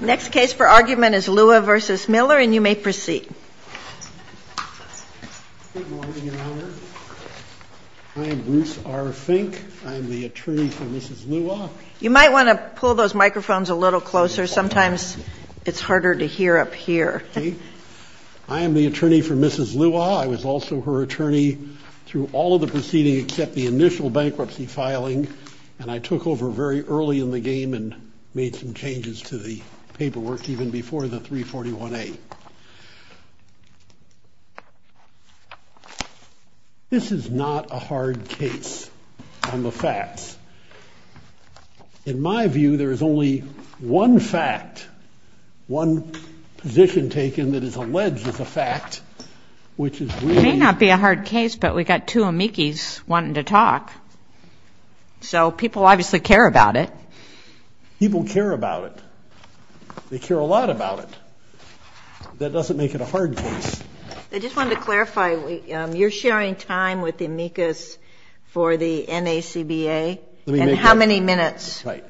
Next case for argument is Lua v. Miller, and you may proceed. Good morning, Your Honor. I am Bruce R. Fink. I am the attorney for Mrs. Lua. You might want to pull those microphones a little closer. Sometimes it's harder to hear up here. Okay. I am the attorney for Mrs. Lua. I was also her attorney through all of the proceedings except the initial bankruptcy filing, and I took over very early in the game and made some changes to the paperwork even before the 341A. This is not a hard case on the facts. In my view, there is only one fact, one position taken that is alleged as a fact, which is really— So people obviously care about it. People care about it. They care a lot about it. That doesn't make it a hard case. I just wanted to clarify, you're sharing time with amicus for the NACBA? Let me make that— And how many minutes? Right.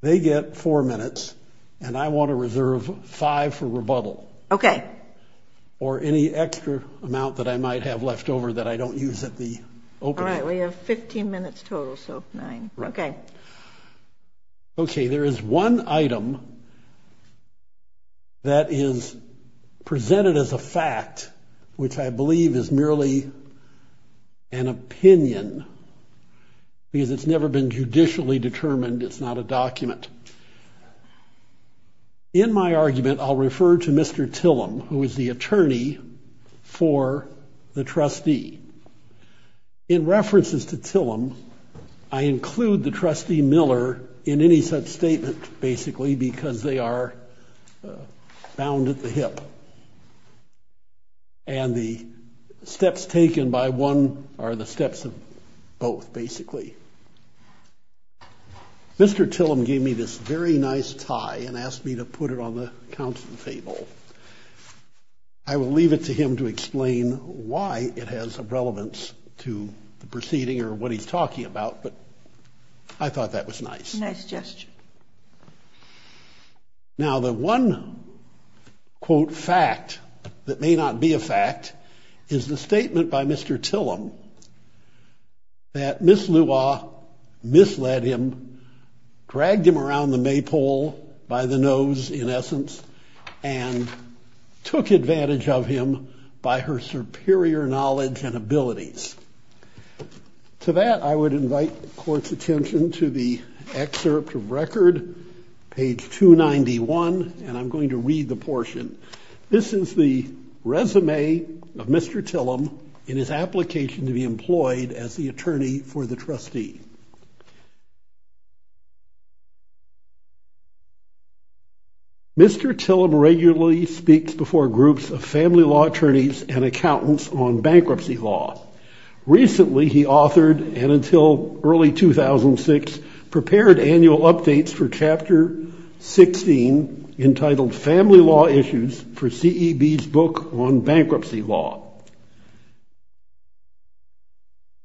They get four minutes, and I want to reserve five for rebuttal. Okay. Or any extra amount that I might have left over that I don't use at the opening. All right. We have 15 minutes total, so nine. Okay. Okay. There is one item that is presented as a fact, which I believe is merely an opinion because it's never been judicially determined. It's not a document. In my argument, I'll refer to Mr. Tillum, who is the attorney for the trustee. In references to Tillum, I include the trustee Miller in any such statement, basically, because they are bound at the hip, and the steps taken by one are the steps of both, basically. Mr. Tillum gave me this very nice tie and asked me to put it on the council table. I will leave it to him to explain why it has a relevance to the proceeding or what he's talking about, but I thought that was nice. Nice gesture. Now, the one, quote, fact that may not be a fact is the statement by Mr. Tillum that Miss Lua misled him, dragged him around the maypole by the nose, in essence, and took advantage of him by her superior knowledge and abilities. To that, I would invite the court's attention to the excerpt of record, page 291, and I'm going to read the portion. This is the resume of Mr. Tillum in his application to be employed as the attorney for the trustee. Mr. Tillum regularly speaks before groups of family law attorneys and accountants on bankruptcy law. Recently, he authored, and until early 2006, prepared annual updates for Chapter 16, entitled Family Law Issues, for CEB's book on bankruptcy law.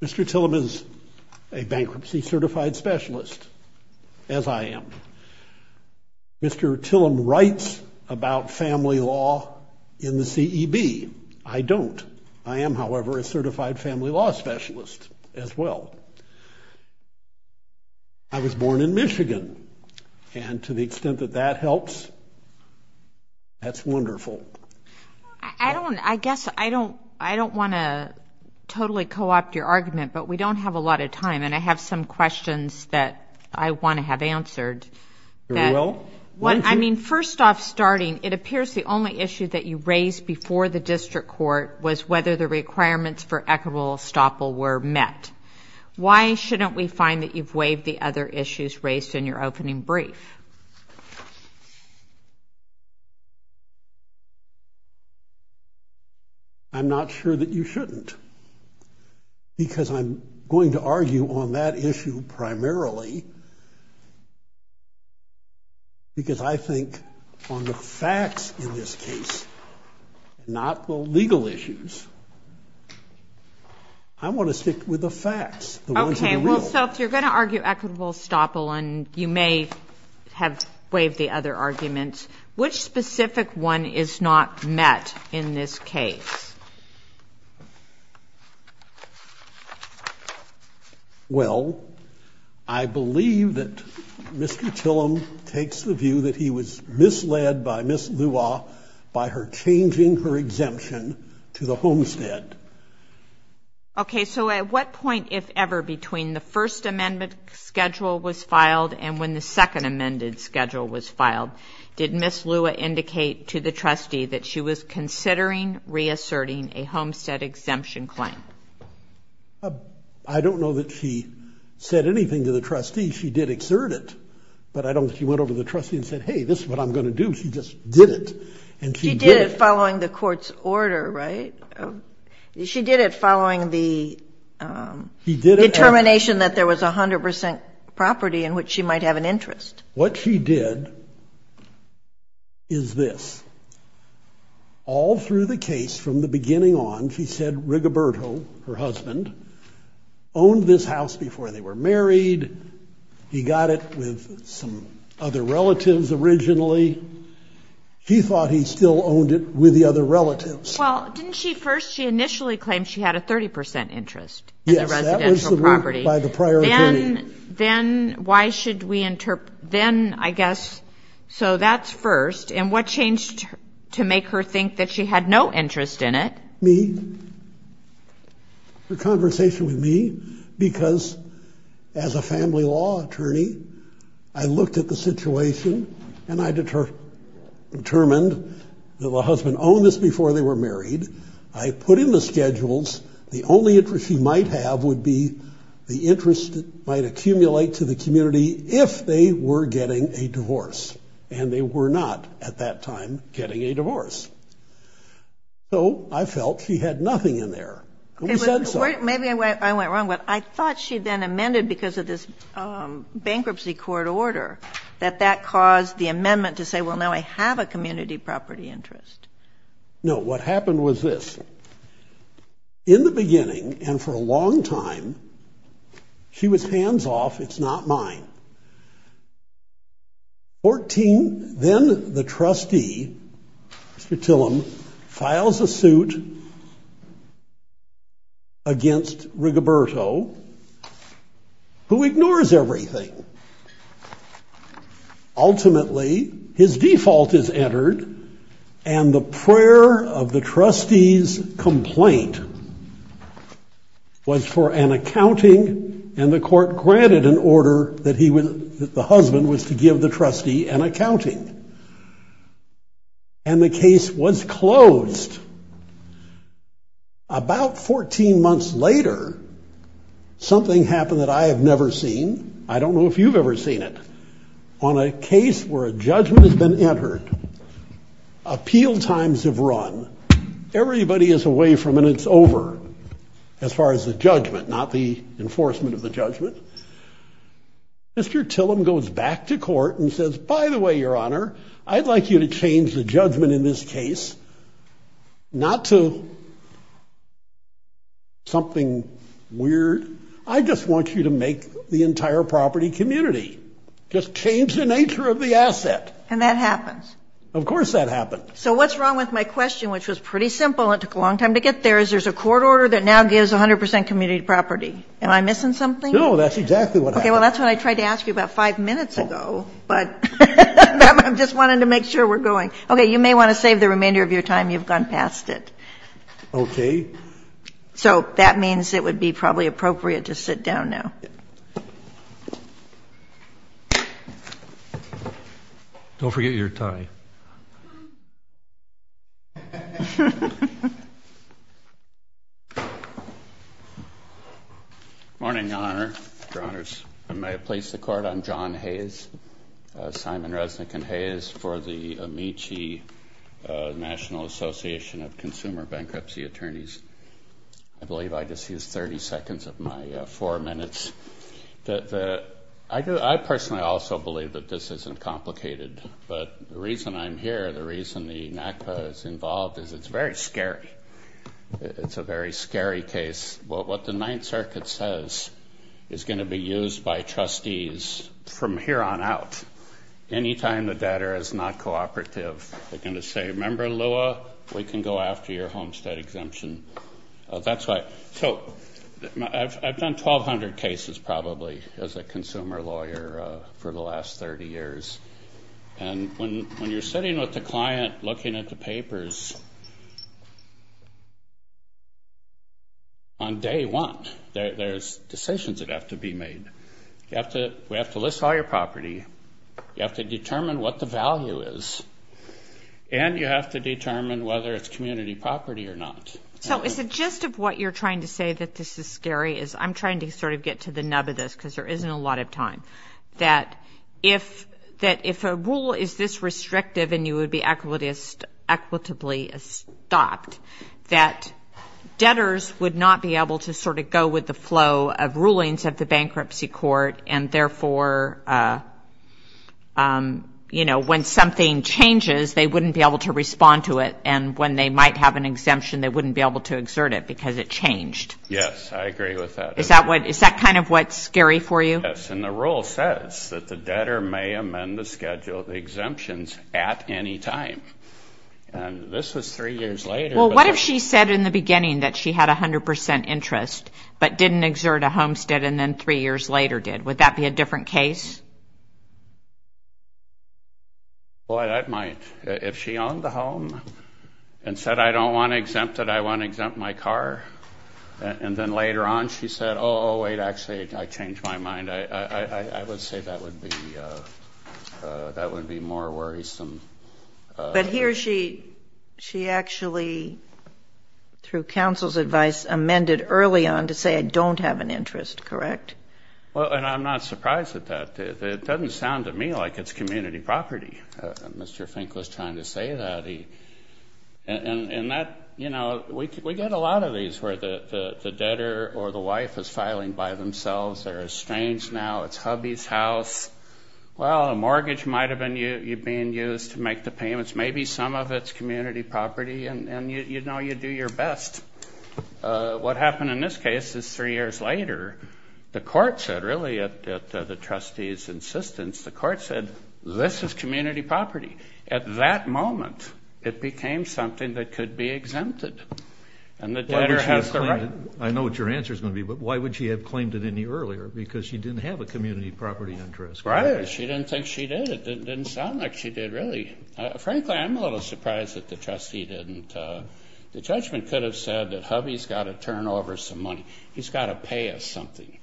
Mr. Tillum is a bankruptcy-certified specialist, as I am. Mr. Tillum writes about family law in the CEB. I don't. I am, however, a certified family law specialist as well. I was born in Michigan, and to the extent that that helps, that's wonderful. I don't. I guess I don't want to totally co-opt your argument, but we don't have a lot of time, and I have some questions that I want to have answered. You will. I mean, first off, starting, it appears the only issue that you raised before the district court was whether the requirements for equitable estoppel were met. Why shouldn't we find that you've waived the other issues raised in your opening brief? I'm not sure that you shouldn't, because I'm going to argue on that issue primarily, because I think on the facts in this case, not the legal issues. I want to stick with the facts, the ones that are real. Okay, well, so if you're going to argue equitable estoppel, and you may have waived the other arguments, which specific one is not met in this case? Well, I believe that Mr. Tillum takes the view that he was misled by Ms. Lua by her changing her exemption to the homestead. Okay, so at what point, if ever, between the first amendment schedule was filed and when the second amended schedule was filed, did Ms. Lua indicate to the trustee that she was considering reasserting a homestead exemption claim? I don't know that she said anything to the trustee. She did exert it, but I don't think she went over to the trustee and said, hey, this is what I'm going to do. She just did it, and she did it. She did it following the court's order, right? She did it following the determination that there was 100% property in which she might have an interest. What she did is this. All through the case, from the beginning on, she said Rigoberto, her husband, owned this house before they were married. He got it with some other relatives originally. She thought he still owned it with the other relatives. Well, didn't she first, she initially claimed she had a 30% interest in the residential property. Yes, that was the rule by the prior attorney. Then, I guess, so that's first. And what changed to make her think that she had no interest in it? Me. The conversation with me, because as a family law attorney, I looked at the situation, and I determined that the husband owned this before they were married. I put in the schedules. The only interest she might have would be the interest it might accumulate to the community if they were getting a divorce, and they were not, at that time, getting a divorce. So I felt she had nothing in there. Maybe I went wrong, but I thought she then amended, because of this bankruptcy court order, that that caused the amendment to say, well, now I have a community property interest. No, what happened was this. In the beginning, and for a long time, she was hands off, it's not mine. Fourteen, then the trustee, Mr. Tillum, files a suit against Rigoberto, who ignores everything. Ultimately, his default is entered, and the prayer of the trustee's complaint was for an accounting, and the court granted an order that the husband was to give the trustee an accounting. And the case was closed. About 14 months later, something happened that I have never seen. I don't know if you've ever seen it. On a case where a judgment has been entered, appeal times have run. Everybody is away from it, and it's over, as far as the judgment, not the enforcement of the judgment. Mr. Tillum goes back to court and says, by the way, Your Honor, I'd like you to change the judgment in this case, not to something weird. I just want you to make the entire property community. Just change the nature of the asset. And that happens. Of course that happens. So what's wrong with my question, which was pretty simple and took a long time to get there, is there's a court order that now gives 100% community property. Am I missing something? No, that's exactly what happened. Okay, well, that's what I tried to ask you about five minutes ago, but I'm just wanting to make sure we're going. Okay, you may want to save the remainder of your time. You've gone past it. Okay. So that means it would be probably appropriate to sit down now. Don't forget your tie. Good morning, Your Honor. Your Honors. I may have placed the court on John Hayes, Simon Resnick and Hayes for the Amici National Association of Consumer Bankruptcy Attorneys. I believe I just used 30 seconds of my four minutes. I personally also believe that this isn't complicated. But the reason I'm here, the reason the NACPA is involved, is it's very scary. It's a very scary case. What the Ninth Circuit says is going to be used by trustees from here on out. Any time the debtor is not cooperative, they're going to say, remember, Lua, we can go after your homestead exemption. That's why. So I've done 1,200 cases probably as a consumer lawyer for the last 30 years. And when you're sitting with the client looking at the papers, on day one, there's decisions that have to be made. We have to list all your property. You have to determine what the value is. And you have to determine whether it's community property or not. So is the gist of what you're trying to say that this is scary is I'm trying to sort of get to the nub of this because there isn't a lot of time. That if a rule is this restrictive and you would be equitably stopped, that debtors would not be able to sort of go with the flow of rulings of the bankruptcy court. And therefore, you know, when something changes, they wouldn't be able to respond to it. And when they might have an exemption, they wouldn't be able to exert it because it changed. Yes, I agree with that. Is that kind of what's scary for you? Yes, and the rule says that the debtor may amend the schedule of exemptions at any time. And this was three years later. Well, what if she said in the beginning that she had 100% interest but didn't exert a homestead and then three years later did? Would that be a different case? Well, that might. If she owned the home and said, I don't want to exempt it, I want to exempt my car. And then later on she said, oh, wait, actually, I changed my mind. I would say that would be more worrisome. But here she actually, through counsel's advice, amended early on to say I don't have an interest, correct? Well, and I'm not surprised at that. It doesn't sound to me like it's community property. Mr. Fink was trying to say that. And that, you know, we get a lot of these where the debtor or the wife is filing by themselves. They're estranged now. It's hubby's house. Well, a mortgage might have been used to make the payments. Maybe some of it's community property, and you know you do your best. What happened in this case is three years later, the court said, really at the trustee's insistence, the court said, this is community property. At that moment, it became something that could be exempted. I know what your answer is going to be, but why would she have claimed it any earlier? Because she didn't have a community property interest. She didn't think she did. It didn't sound like she did, really. Frankly, I'm a little surprised that the trustee didn't. The judgment could have said that hubby's got to turn over some money. He's got to pay us something.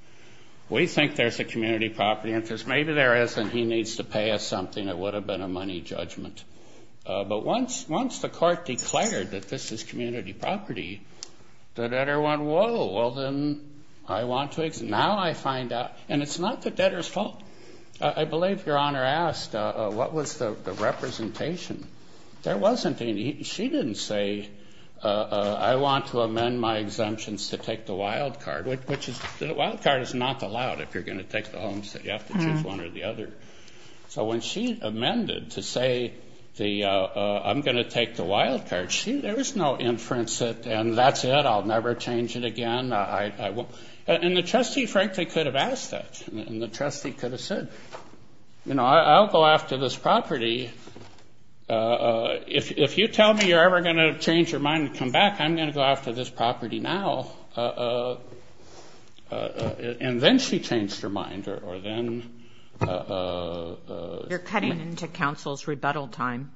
We think there's a community property interest. Maybe there isn't. He needs to pay us something. It would have been a money judgment. But once the court declared that this is community property, the debtor went, whoa, well, then I want to exempt. Now I find out. And it's not the debtor's fault. I believe Your Honor asked, what was the representation? There wasn't any. She didn't say, I want to amend my exemptions to take the wild card, which is the wild card is not allowed if you're going to take the home. So you have to choose one or the other. So when she amended to say, I'm going to take the wild card, there was no inference that, and that's it, I'll never change it again. And the trustee, frankly, could have asked that. And the trustee could have said, I'll go after this property. If you tell me you're ever going to change your mind and come back, I'm going to go after this property now. And then she changed her mind, or then. You're cutting into counsel's rebuttal time.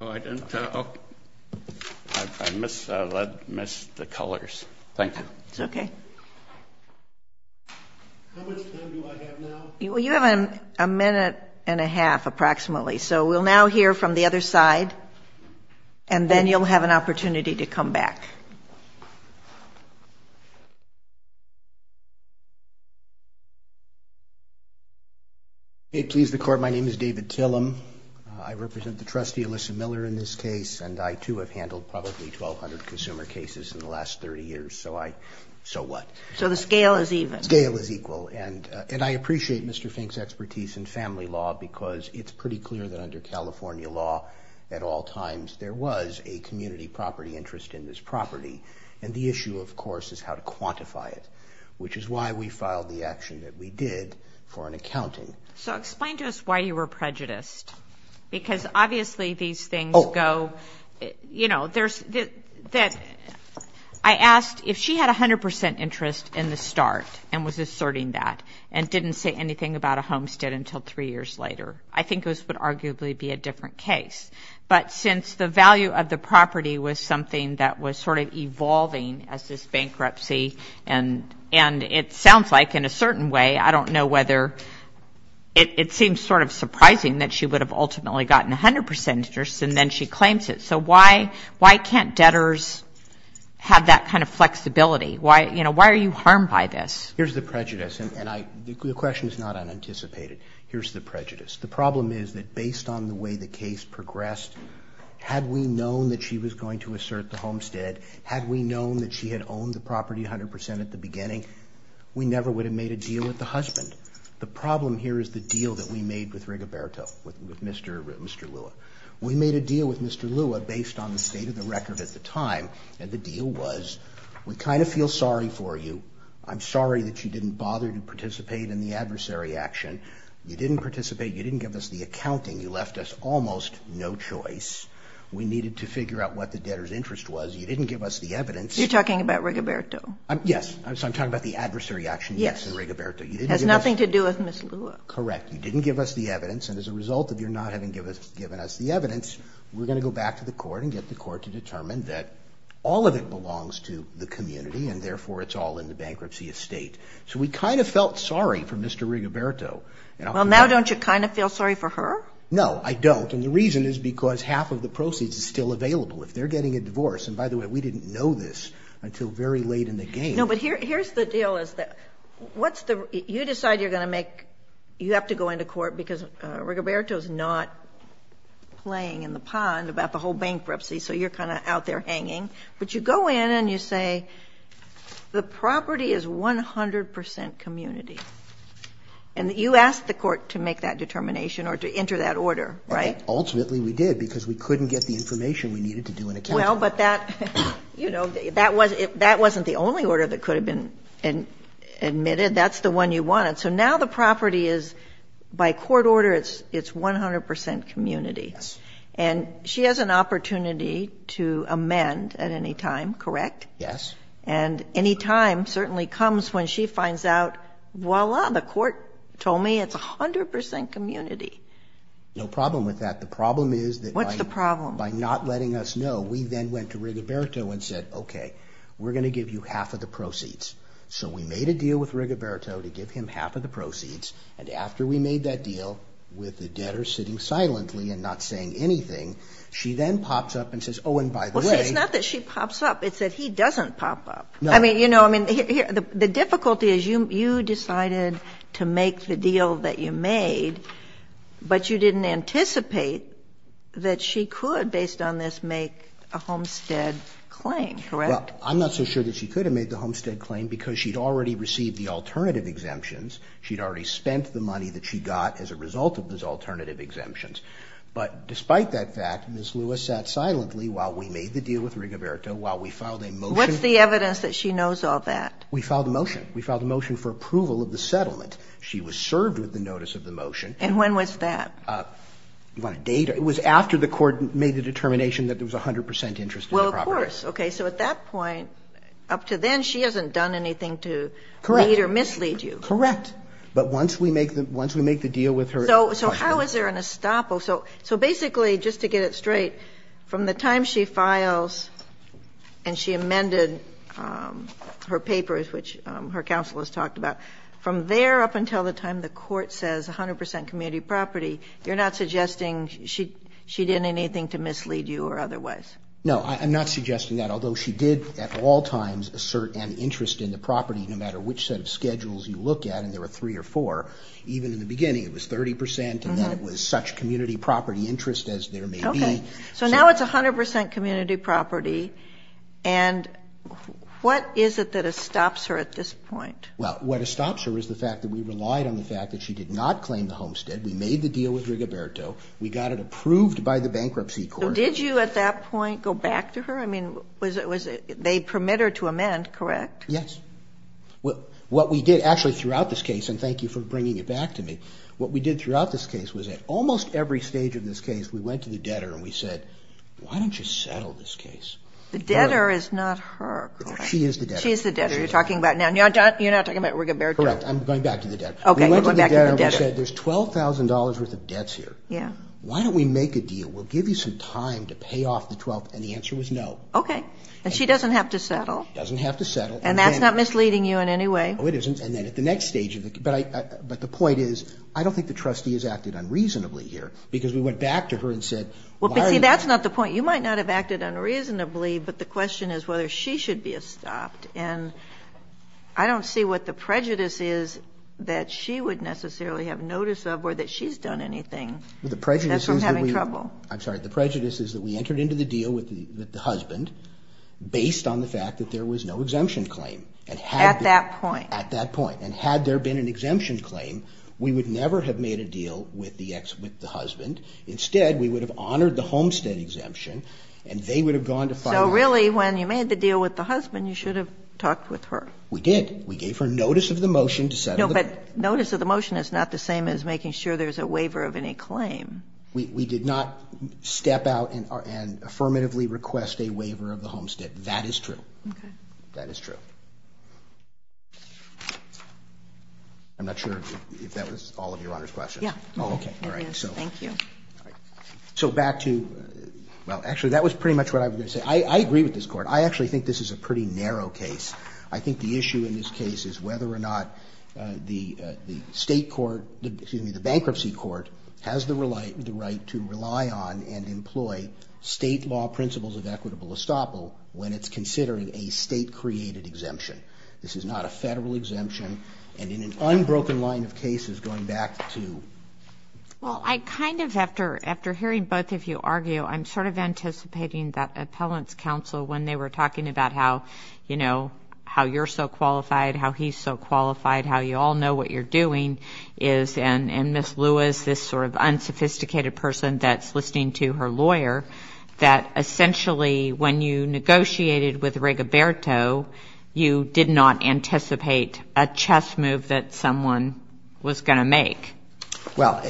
Oh, I didn't. I missed the colors. Thank you. It's okay. How much time do I have now? Well, you have a minute and a half, approximately. So we'll now hear from the other side. And then you'll have an opportunity to come back. May it please the Court, my name is David Tillum. I represent the trustee, Alyssa Miller, in this case. And I, too, have handled probably 1,200 consumer cases in the last 30 years. So I, so what? So the scale is even. The scale is equal. And I appreciate Mr. Fink's expertise in family law, because it's pretty clear that under California law, at all times there was a community property interest in this property. And the issue, of course, is how to quantify it, which is why we filed the action that we did for an accounting. So explain to us why you were prejudiced. Because obviously these things go, you know, there's, I asked if she had 100 percent interest in the start and was asserting that and didn't say anything about a homestead until three years later. I think this would arguably be a different case. But since the value of the property was something that was sort of evolving as this bankruptcy, and it sounds like in a certain way, I don't know whether it seems sort of surprising that she would have ultimately gotten 100 percent interest and then she claims it. So why can't debtors have that kind of flexibility? Why, you know, why are you harmed by this? Here's the prejudice, and the question is not unanticipated. Here's the prejudice. The problem is that based on the way the case progressed, had we known that she was going to assert the homestead, had we known that she had owned the property 100 percent at the beginning, we never would have made a deal with the husband. The problem here is the deal that we made with Rigoberto, with Mr. Lua. We made a deal with Mr. Lua based on the state of the record at the time, and the deal was we kind of feel sorry for you. I'm sorry that you didn't bother to participate in the adversary action. You didn't participate. You didn't give us the accounting. You left us almost no choice. We needed to figure out what the debtor's interest was. You didn't give us the evidence. You're talking about Rigoberto. Yes. I'm talking about the adversary action. Yes. In Rigoberto. It has nothing to do with Mr. Lua. Correct. You didn't give us the evidence, and as a result of your not having given us the evidence, we're going to go back to the court and get the court to determine that all of it belongs to the community, and therefore it's all in the bankruptcy estate. So we kind of felt sorry for Mr. Rigoberto. Well, now don't you kind of feel sorry for her? No, I don't, and the reason is because half of the proceeds is still available. If they're getting a divorce, and by the way, we didn't know this until very late in the game. No, but here's the deal. You decide you're going to make you have to go into court because Rigoberto is not playing in the pond about the whole bankruptcy, so you're kind of out there hanging, but you go in and you say the property is 100 percent community, and you asked the court to make that determination or to enter that order, right? Ultimately, we did because we couldn't get the information we needed to do an accounting. Well, but that, you know, that wasn't the only order that could have been admitted. That's the one you wanted. So now the property is by court order, it's 100 percent community. Yes. And she has an opportunity to amend at any time, correct? Yes. And any time certainly comes when she finds out, voila, the court told me it's 100 percent community. The problem is that by not letting us know. What's the problem? She then went to Rigoberto and said, okay, we're going to give you half of the proceeds. So we made a deal with Rigoberto to give him half of the proceeds, and after we made that deal with the debtor sitting silently and not saying anything, she then pops up and says, oh, and by the way. Well, see, it's not that she pops up. It's that he doesn't pop up. No. I mean, you know, I mean, the difficulty is you decided to make the deal that you made, but you didn't anticipate that she could, based on this, make a homestead claim, correct? Well, I'm not so sure that she could have made the homestead claim because she'd already received the alternative exemptions. She'd already spent the money that she got as a result of those alternative exemptions. But despite that fact, Ms. Lewis sat silently while we made the deal with Rigoberto, while we filed a motion. What's the evidence that she knows all that? We filed a motion. We filed a motion for approval of the settlement. She was served with the notice of the motion. And when was that? You want to date it? It was after the court made the determination that there was 100 percent interest in the property. Well, of course. Okay. So at that point, up to then, she hasn't done anything to lead or mislead you. Correct. But once we make the deal with her. So how is there an estoppel? So basically, just to get it straight, from the time she files and she amended her papers, which her counsel has talked about, from there up until the time the court says 100 percent community property, you're not suggesting she did anything to mislead you or otherwise? No, I'm not suggesting that, although she did at all times assert an interest in the property, no matter which set of schedules you look at. And there were three or four. Even in the beginning, it was 30 percent, and then it was such community property interest as there may be. Okay. So now it's 100 percent community property. And what is it that estops her at this point? Well, what estops her is the fact that we relied on the fact that she did not claim the homestead. We made the deal with Rigoberto. We got it approved by the bankruptcy court. So did you at that point go back to her? I mean, they permit her to amend, correct? Yes. What we did actually throughout this case, and thank you for bringing it back to me, what we did throughout this case was at almost every stage of this case, we went to the debtor and we said, why don't you settle this case? The debtor is not her, correct? She is the debtor. She is the debtor. You're talking about now. You're not talking about Rigoberto? Correct. I'm going back to the debtor. Okay. You're going back to the debtor. We went to the debtor. We said, there's $12,000 worth of debts here. Yeah. Why don't we make a deal? We'll give you some time to pay off the 12th. And the answer was no. Okay. And she doesn't have to settle. She doesn't have to settle. And that's not misleading you in any way. No, it isn't. And then at the next stage of the case. Well, that's not the point. You might not have acted unreasonably, but the question is whether she should be stopped. And I don't see what the prejudice is that she would necessarily have notice of or that she's done anything. The prejudice is that we... That's from having trouble. I'm sorry. The prejudice is that we entered into the deal with the husband based on the fact that there was no exemption claim. At that point. At that point. And had there been an exemption claim, we would never have made a deal with the husband. Instead, we would have honored the homestead exemption, and they would have gone to find... So, really, when you made the deal with the husband, you should have talked with her. We did. We gave her notice of the motion to settle the... No, but notice of the motion is not the same as making sure there's a waiver of any claim. We did not step out and affirmatively request a waiver of the homestead. That is true. Okay. That is true. I'm not sure if that was all of Your Honor's questions. Yeah. Oh, okay. All right. Thank you. So, back to... Well, actually, that was pretty much what I was going to say. I agree with this Court. I actually think this is a pretty narrow case. I think the issue in this case is whether or not the state court, excuse me, the bankruptcy court has the right to rely on and employ state law principles of equitable estoppel when it's considering a state-created exemption. This is not a federal exemption. And in an unbroken line of cases, going back to... Well, I kind of, after hearing both of you argue, I'm sort of anticipating that appellant's counsel, when they were talking about how, you know, how you're so qualified, how he's so qualified, how you all know what you're doing, is... And Ms. Lewis, this sort of unsophisticated person that's listening to her lawyer, that someone was going to make. Well...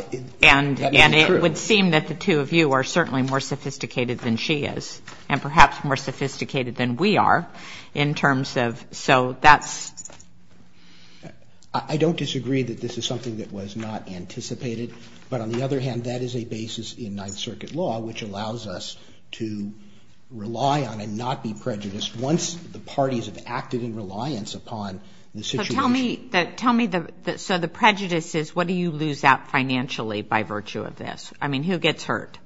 And it would seem that the two of you are certainly more sophisticated than she is, and perhaps more sophisticated than we are in terms of... So, that's... I don't disagree that this is something that was not anticipated. But on the other hand, that is a basis in Ninth Circuit law, which allows us to rely on and not be prejudiced once the parties have acted in reliance upon the situation. Tell me, so the prejudice is, what do you lose out financially by virtue of this? I mean, who gets hurt?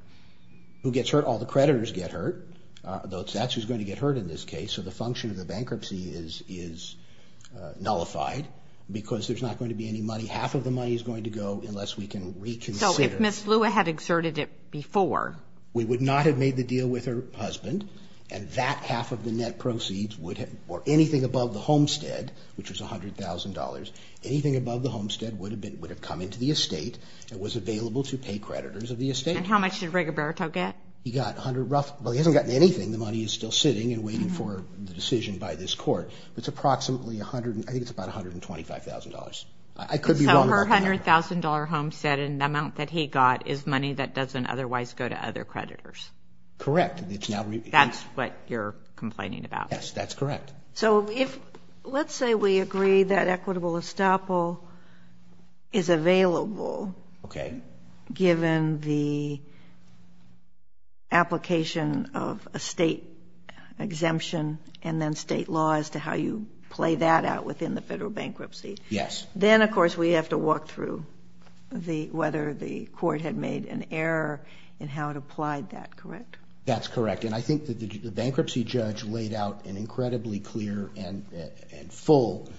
Who gets hurt? All the creditors get hurt. That's who's going to get hurt in this case. So, the function of the bankruptcy is nullified because there's not going to be any money. Half of the money is going to go unless we can reconsider. So, if Ms. Lewis had exerted it before... We would not have made the deal with her husband, and that half of the net proceeds would have... or anything above the homestead, which was $100,000, anything above the homestead would have come into the estate and was available to pay creditors of the estate. And how much did Rigoberto get? He got roughly... Well, he hasn't gotten anything. The money is still sitting and waiting for the decision by this court. It's approximately $125,000. I could be wrong about that. So, her $100,000 homestead and the amount that he got is money that doesn't otherwise go to other creditors. Correct. That's what you're complaining about. Yes, that's correct. So, let's say we agree that equitable estoppel is available... Okay. ...given the application of a state exemption and then state law as to how you play that out within the federal bankruptcy. Yes. Then, of course, we have to walk through whether the court had made an error and how it applied that, correct? That's correct. And I think that the bankruptcy judge laid out an incredibly clear and full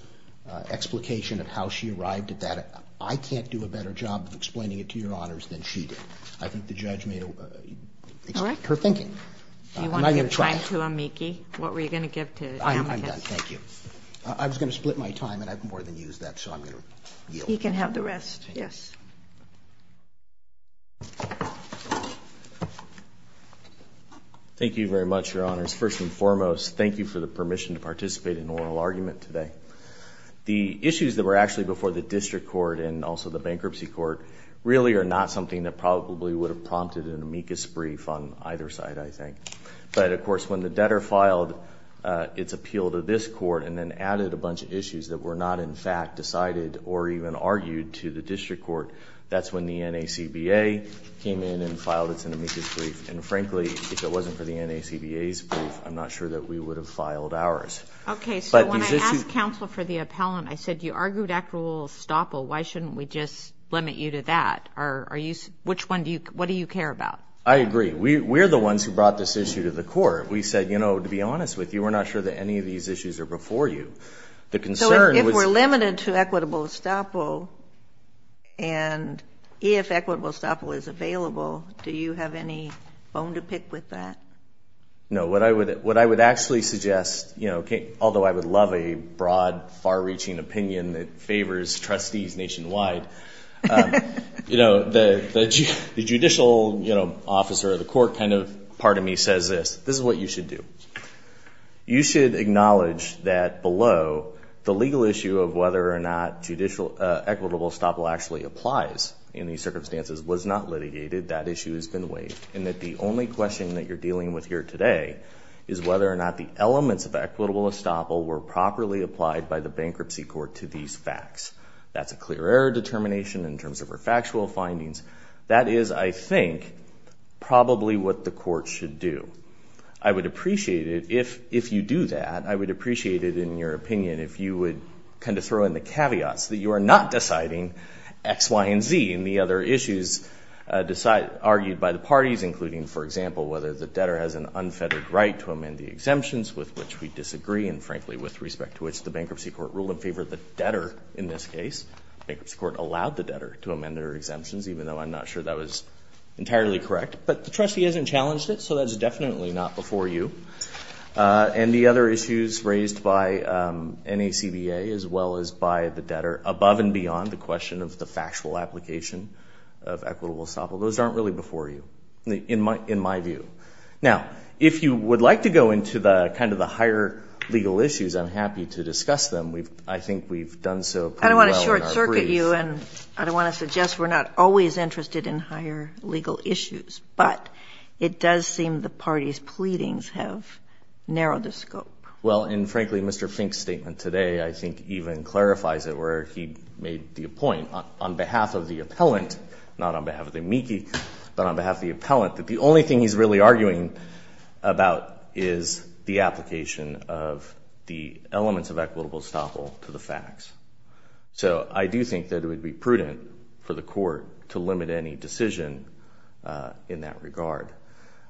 explication of how she arrived at that. I can't do a better job of explaining it to Your Honors than she did. I think the judge made her thinking. Am I going to try? Do you want to give time to Amiki? What were you going to give to Amiki? I'm done. Thank you. I was going to split my time, and I've more than used that, so I'm going to yield. You can have the rest. Yes. Thank you very much, Your Honors. First and foremost, thank you for the permission to participate in an oral argument today. The issues that were actually before the district court and also the bankruptcy court really are not something that probably would have prompted an Amika's brief on either side, I think. But, of course, when the debtor filed its appeal to this court and then added a bunch of issues that were not, in fact, decided or even argued to the district court, that's when the NACBA came in and filed its Amika's brief. And, frankly, if it wasn't for the NACBA's brief, I'm not sure that we would have filed ours. Okay. So when I asked counsel for the appellant, I said, you argued equitable estoppel. Why shouldn't we just limit you to that? What do you care about? I agree. We're the ones who brought this issue to the court. We said, you know, to be honest with you, we're not sure that any of these issues are before you. So if we're limited to equitable estoppel and if equitable estoppel is available, do you have any bone to pick with that? No. What I would actually suggest, although I would love a broad, far-reaching opinion that favors trustees nationwide, the judicial officer of the court kind of part of me says this. This is what you should do. You should acknowledge that below, the legal issue of whether or not equitable estoppel actually applies in these circumstances was not litigated. That issue has been waived. And that the only question that you're dealing with here today is whether or not the elements of equitable estoppel were properly applied by the bankruptcy court to these facts. That's a clear error determination in terms of our factual findings. That is, I think, probably what the court should do. I would appreciate it if you do that. I would appreciate it, in your opinion, if you would kind of throw in the caveats that you are not deciding X, Y, and Z in the other issues argued by the parties, including, for example, whether the debtor has an unfettered right to amend the exemptions with which we disagree and, frankly, with respect to which the bankruptcy court ruled in favor of the debtor in this case. The bankruptcy court allowed the debtor to amend their exemptions, even though I'm not sure that was entirely correct. But the trustee hasn't challenged it, so that's definitely not before you. And the other issues raised by NACBA as well as by the debtor, above and beyond the question of the factual application of equitable estoppel, those aren't really before you, in my view. Now, if you would like to go into the higher legal issues, I'm happy to discuss them. I think we've done so pretty well in our brief. I don't want to short-circuit you, and I don't want to suggest we're not always interested in higher legal issues, but it does seem the party's pleadings have narrowed the scope. Well, and frankly, Mr. Fink's statement today, I think, even clarifies it, where he made the point on behalf of the appellant, not on behalf of the amici, but on behalf of the appellant, that the only thing he's really arguing about is the application of the elements of equitable estoppel to the facts. So I do think that it would be prudent for the court to limit any decision in that regard.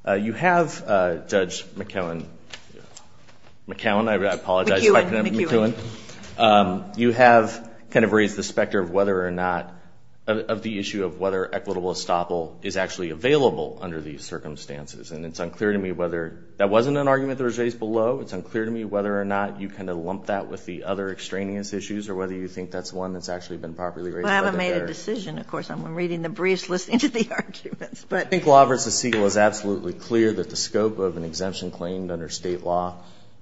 You have, Judge McEwen, McEwen, I apologize, Dr. McEwen, you have kind of raised the specter of whether or not, of the issue of whether equitable estoppel is actually available under these circumstances, and it's unclear to me whether, that wasn't an argument that was raised below, it's unclear to me whether or not you kind of lumped that with the other extraneous issues or whether you think that's one that's actually been properly raised. I haven't made a decision, of course, I'm reading the briefs, listening to the arguments, but. I think Law v. Siegel is absolutely clear that the scope of an exemption claimed under state law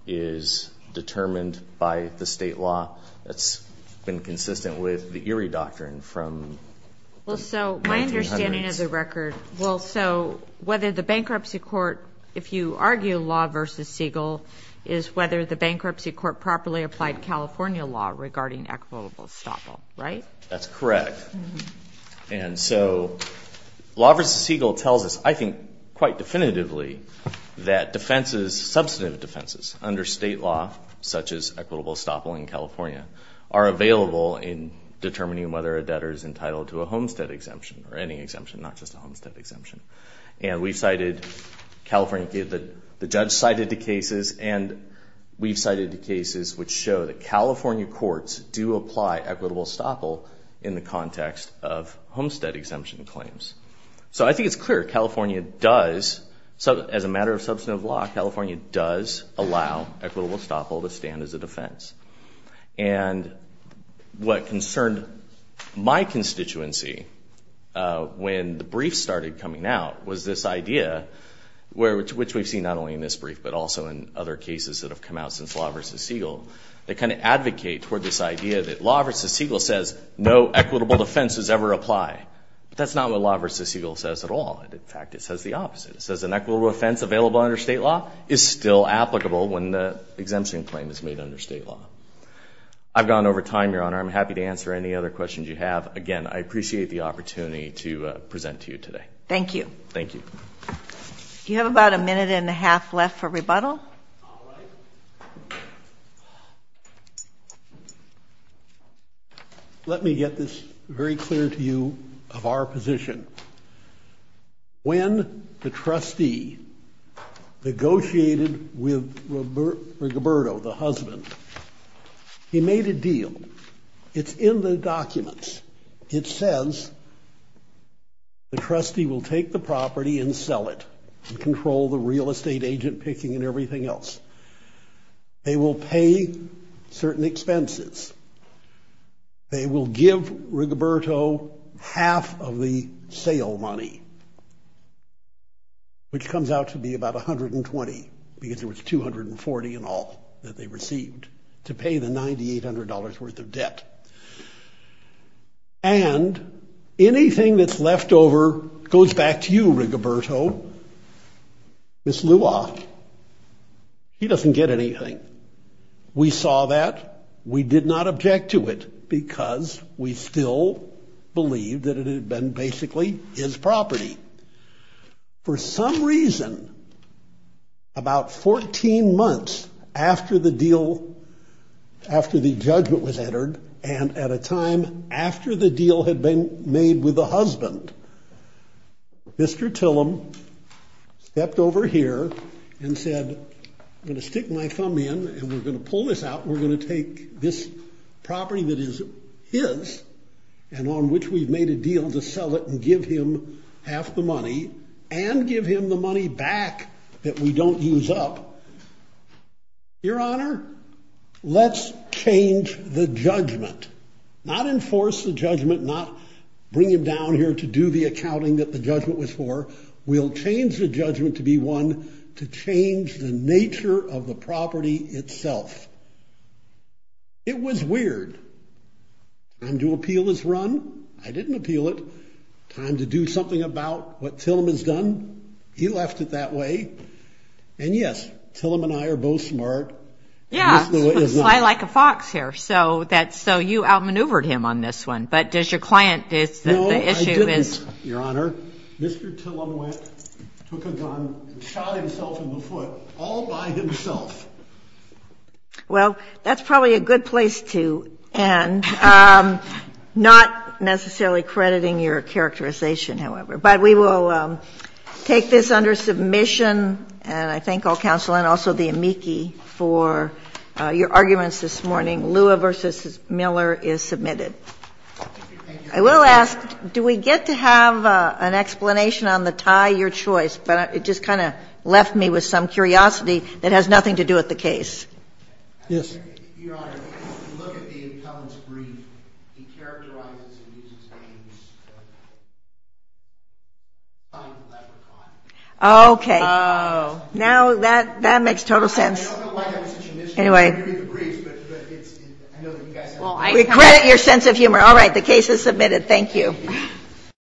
is determined by the state law. That's been consistent with the Erie Doctrine from the 1900s. Well, so, my understanding of the record, well, so, whether the bankruptcy court, if you argue Law v. Siegel, is whether the bankruptcy court properly applied California law regarding equitable estoppel, right? That's correct. And so, Law v. Siegel tells us, I think, quite definitively, that defenses, substantive defenses, under state law, such as equitable estoppel in California, are available in determining whether a debtor is entitled to a homestead exemption, or any exemption, not just a homestead exemption. And we've cited California cases, the judge cited the cases, and we've cited the cases which show that California courts do apply equitable estoppel in the context of homestead exemption claims. So, I think it's clear California does, as a matter of substantive law, California does allow equitable estoppel to stand as a defense. And what concerned my constituency when the brief started coming out was this idea, which we've seen not only in this brief, but also in other cases that have come out since Law v. Siegel, they kind of advocate toward this idea that Law v. Siegel says no equitable defense is ever applied. But that's not what Law v. Siegel says at all. In fact, it says the opposite. It says an equitable offense available under state law is still applicable when the exemption claim is made under state law. I've gone over time, Your Honor. I'm happy to answer any other questions you have. Again, I appreciate the opportunity Thank you. Thank you. You have about a minute and a half left for rebuttal. All right. Let me get this very clear to you of our position. When the trustee negotiated with Rigoberto, the husband, he made a deal. It's in the documents. It says the trustee will take the property and sell it and control the real estate agent picking and everything else. They will pay certain expenses. They will give Rigoberto half of the sale money, which comes out to be about $120, because there was $240 in all that they received to pay the $9,800 worth of debt. And anything that's left over goes back to you, Rigoberto. Miss Lua, he doesn't get anything. We saw that. We did not object to it, because we still believe that it had been basically his property. For some reason, about 14 months after the deal, after the judgment was entered, and at a time after the deal had been made with the husband, Mr. Tillum stepped over here and said, I'm going to stick my thumb in, and we're going to pull this out, and we're going to take this property that is his and on which we've made a deal to sell it and give him half the money and give him the money back that we don't use up. Your Honor, let's change the judgment. Not enforce the judgment, not bring him down here to do the accounting that the judgment was for. We'll change the judgment to be one to change the nature of the property itself. It was weird. Time to appeal this run. I didn't appeal it. Time to do something about what Tillum has done. He left it that way. And yes, Tillum and I are both smart. Yes. I like a fox here, so you outmaneuvered him on this one. But does your client, the issue is- No, I didn't, Your Honor. Mr. Tillum went, took a gun, and shot himself in the foot all by himself. Well, that's probably a good place to end. Not necessarily crediting your characterization, however. But we will take this under submission, and I thank all counsel and also the amici for your arguments this morning. Lua v. Miller is submitted. I will ask, do we get to have an explanation on the tie? Your choice. But it just kind of left me with some curiosity that has nothing to do with the case. Yes. Your Honor, if you look at the appellant's brief, he characterizes and uses the name as a sign of pleasure or pride. Oh, okay. Oh. Now that makes total sense. I don't know why that was such a mischief. Anyway. I know that you guys have- We credit your sense of humor. All right. The case is submitted. Thank you.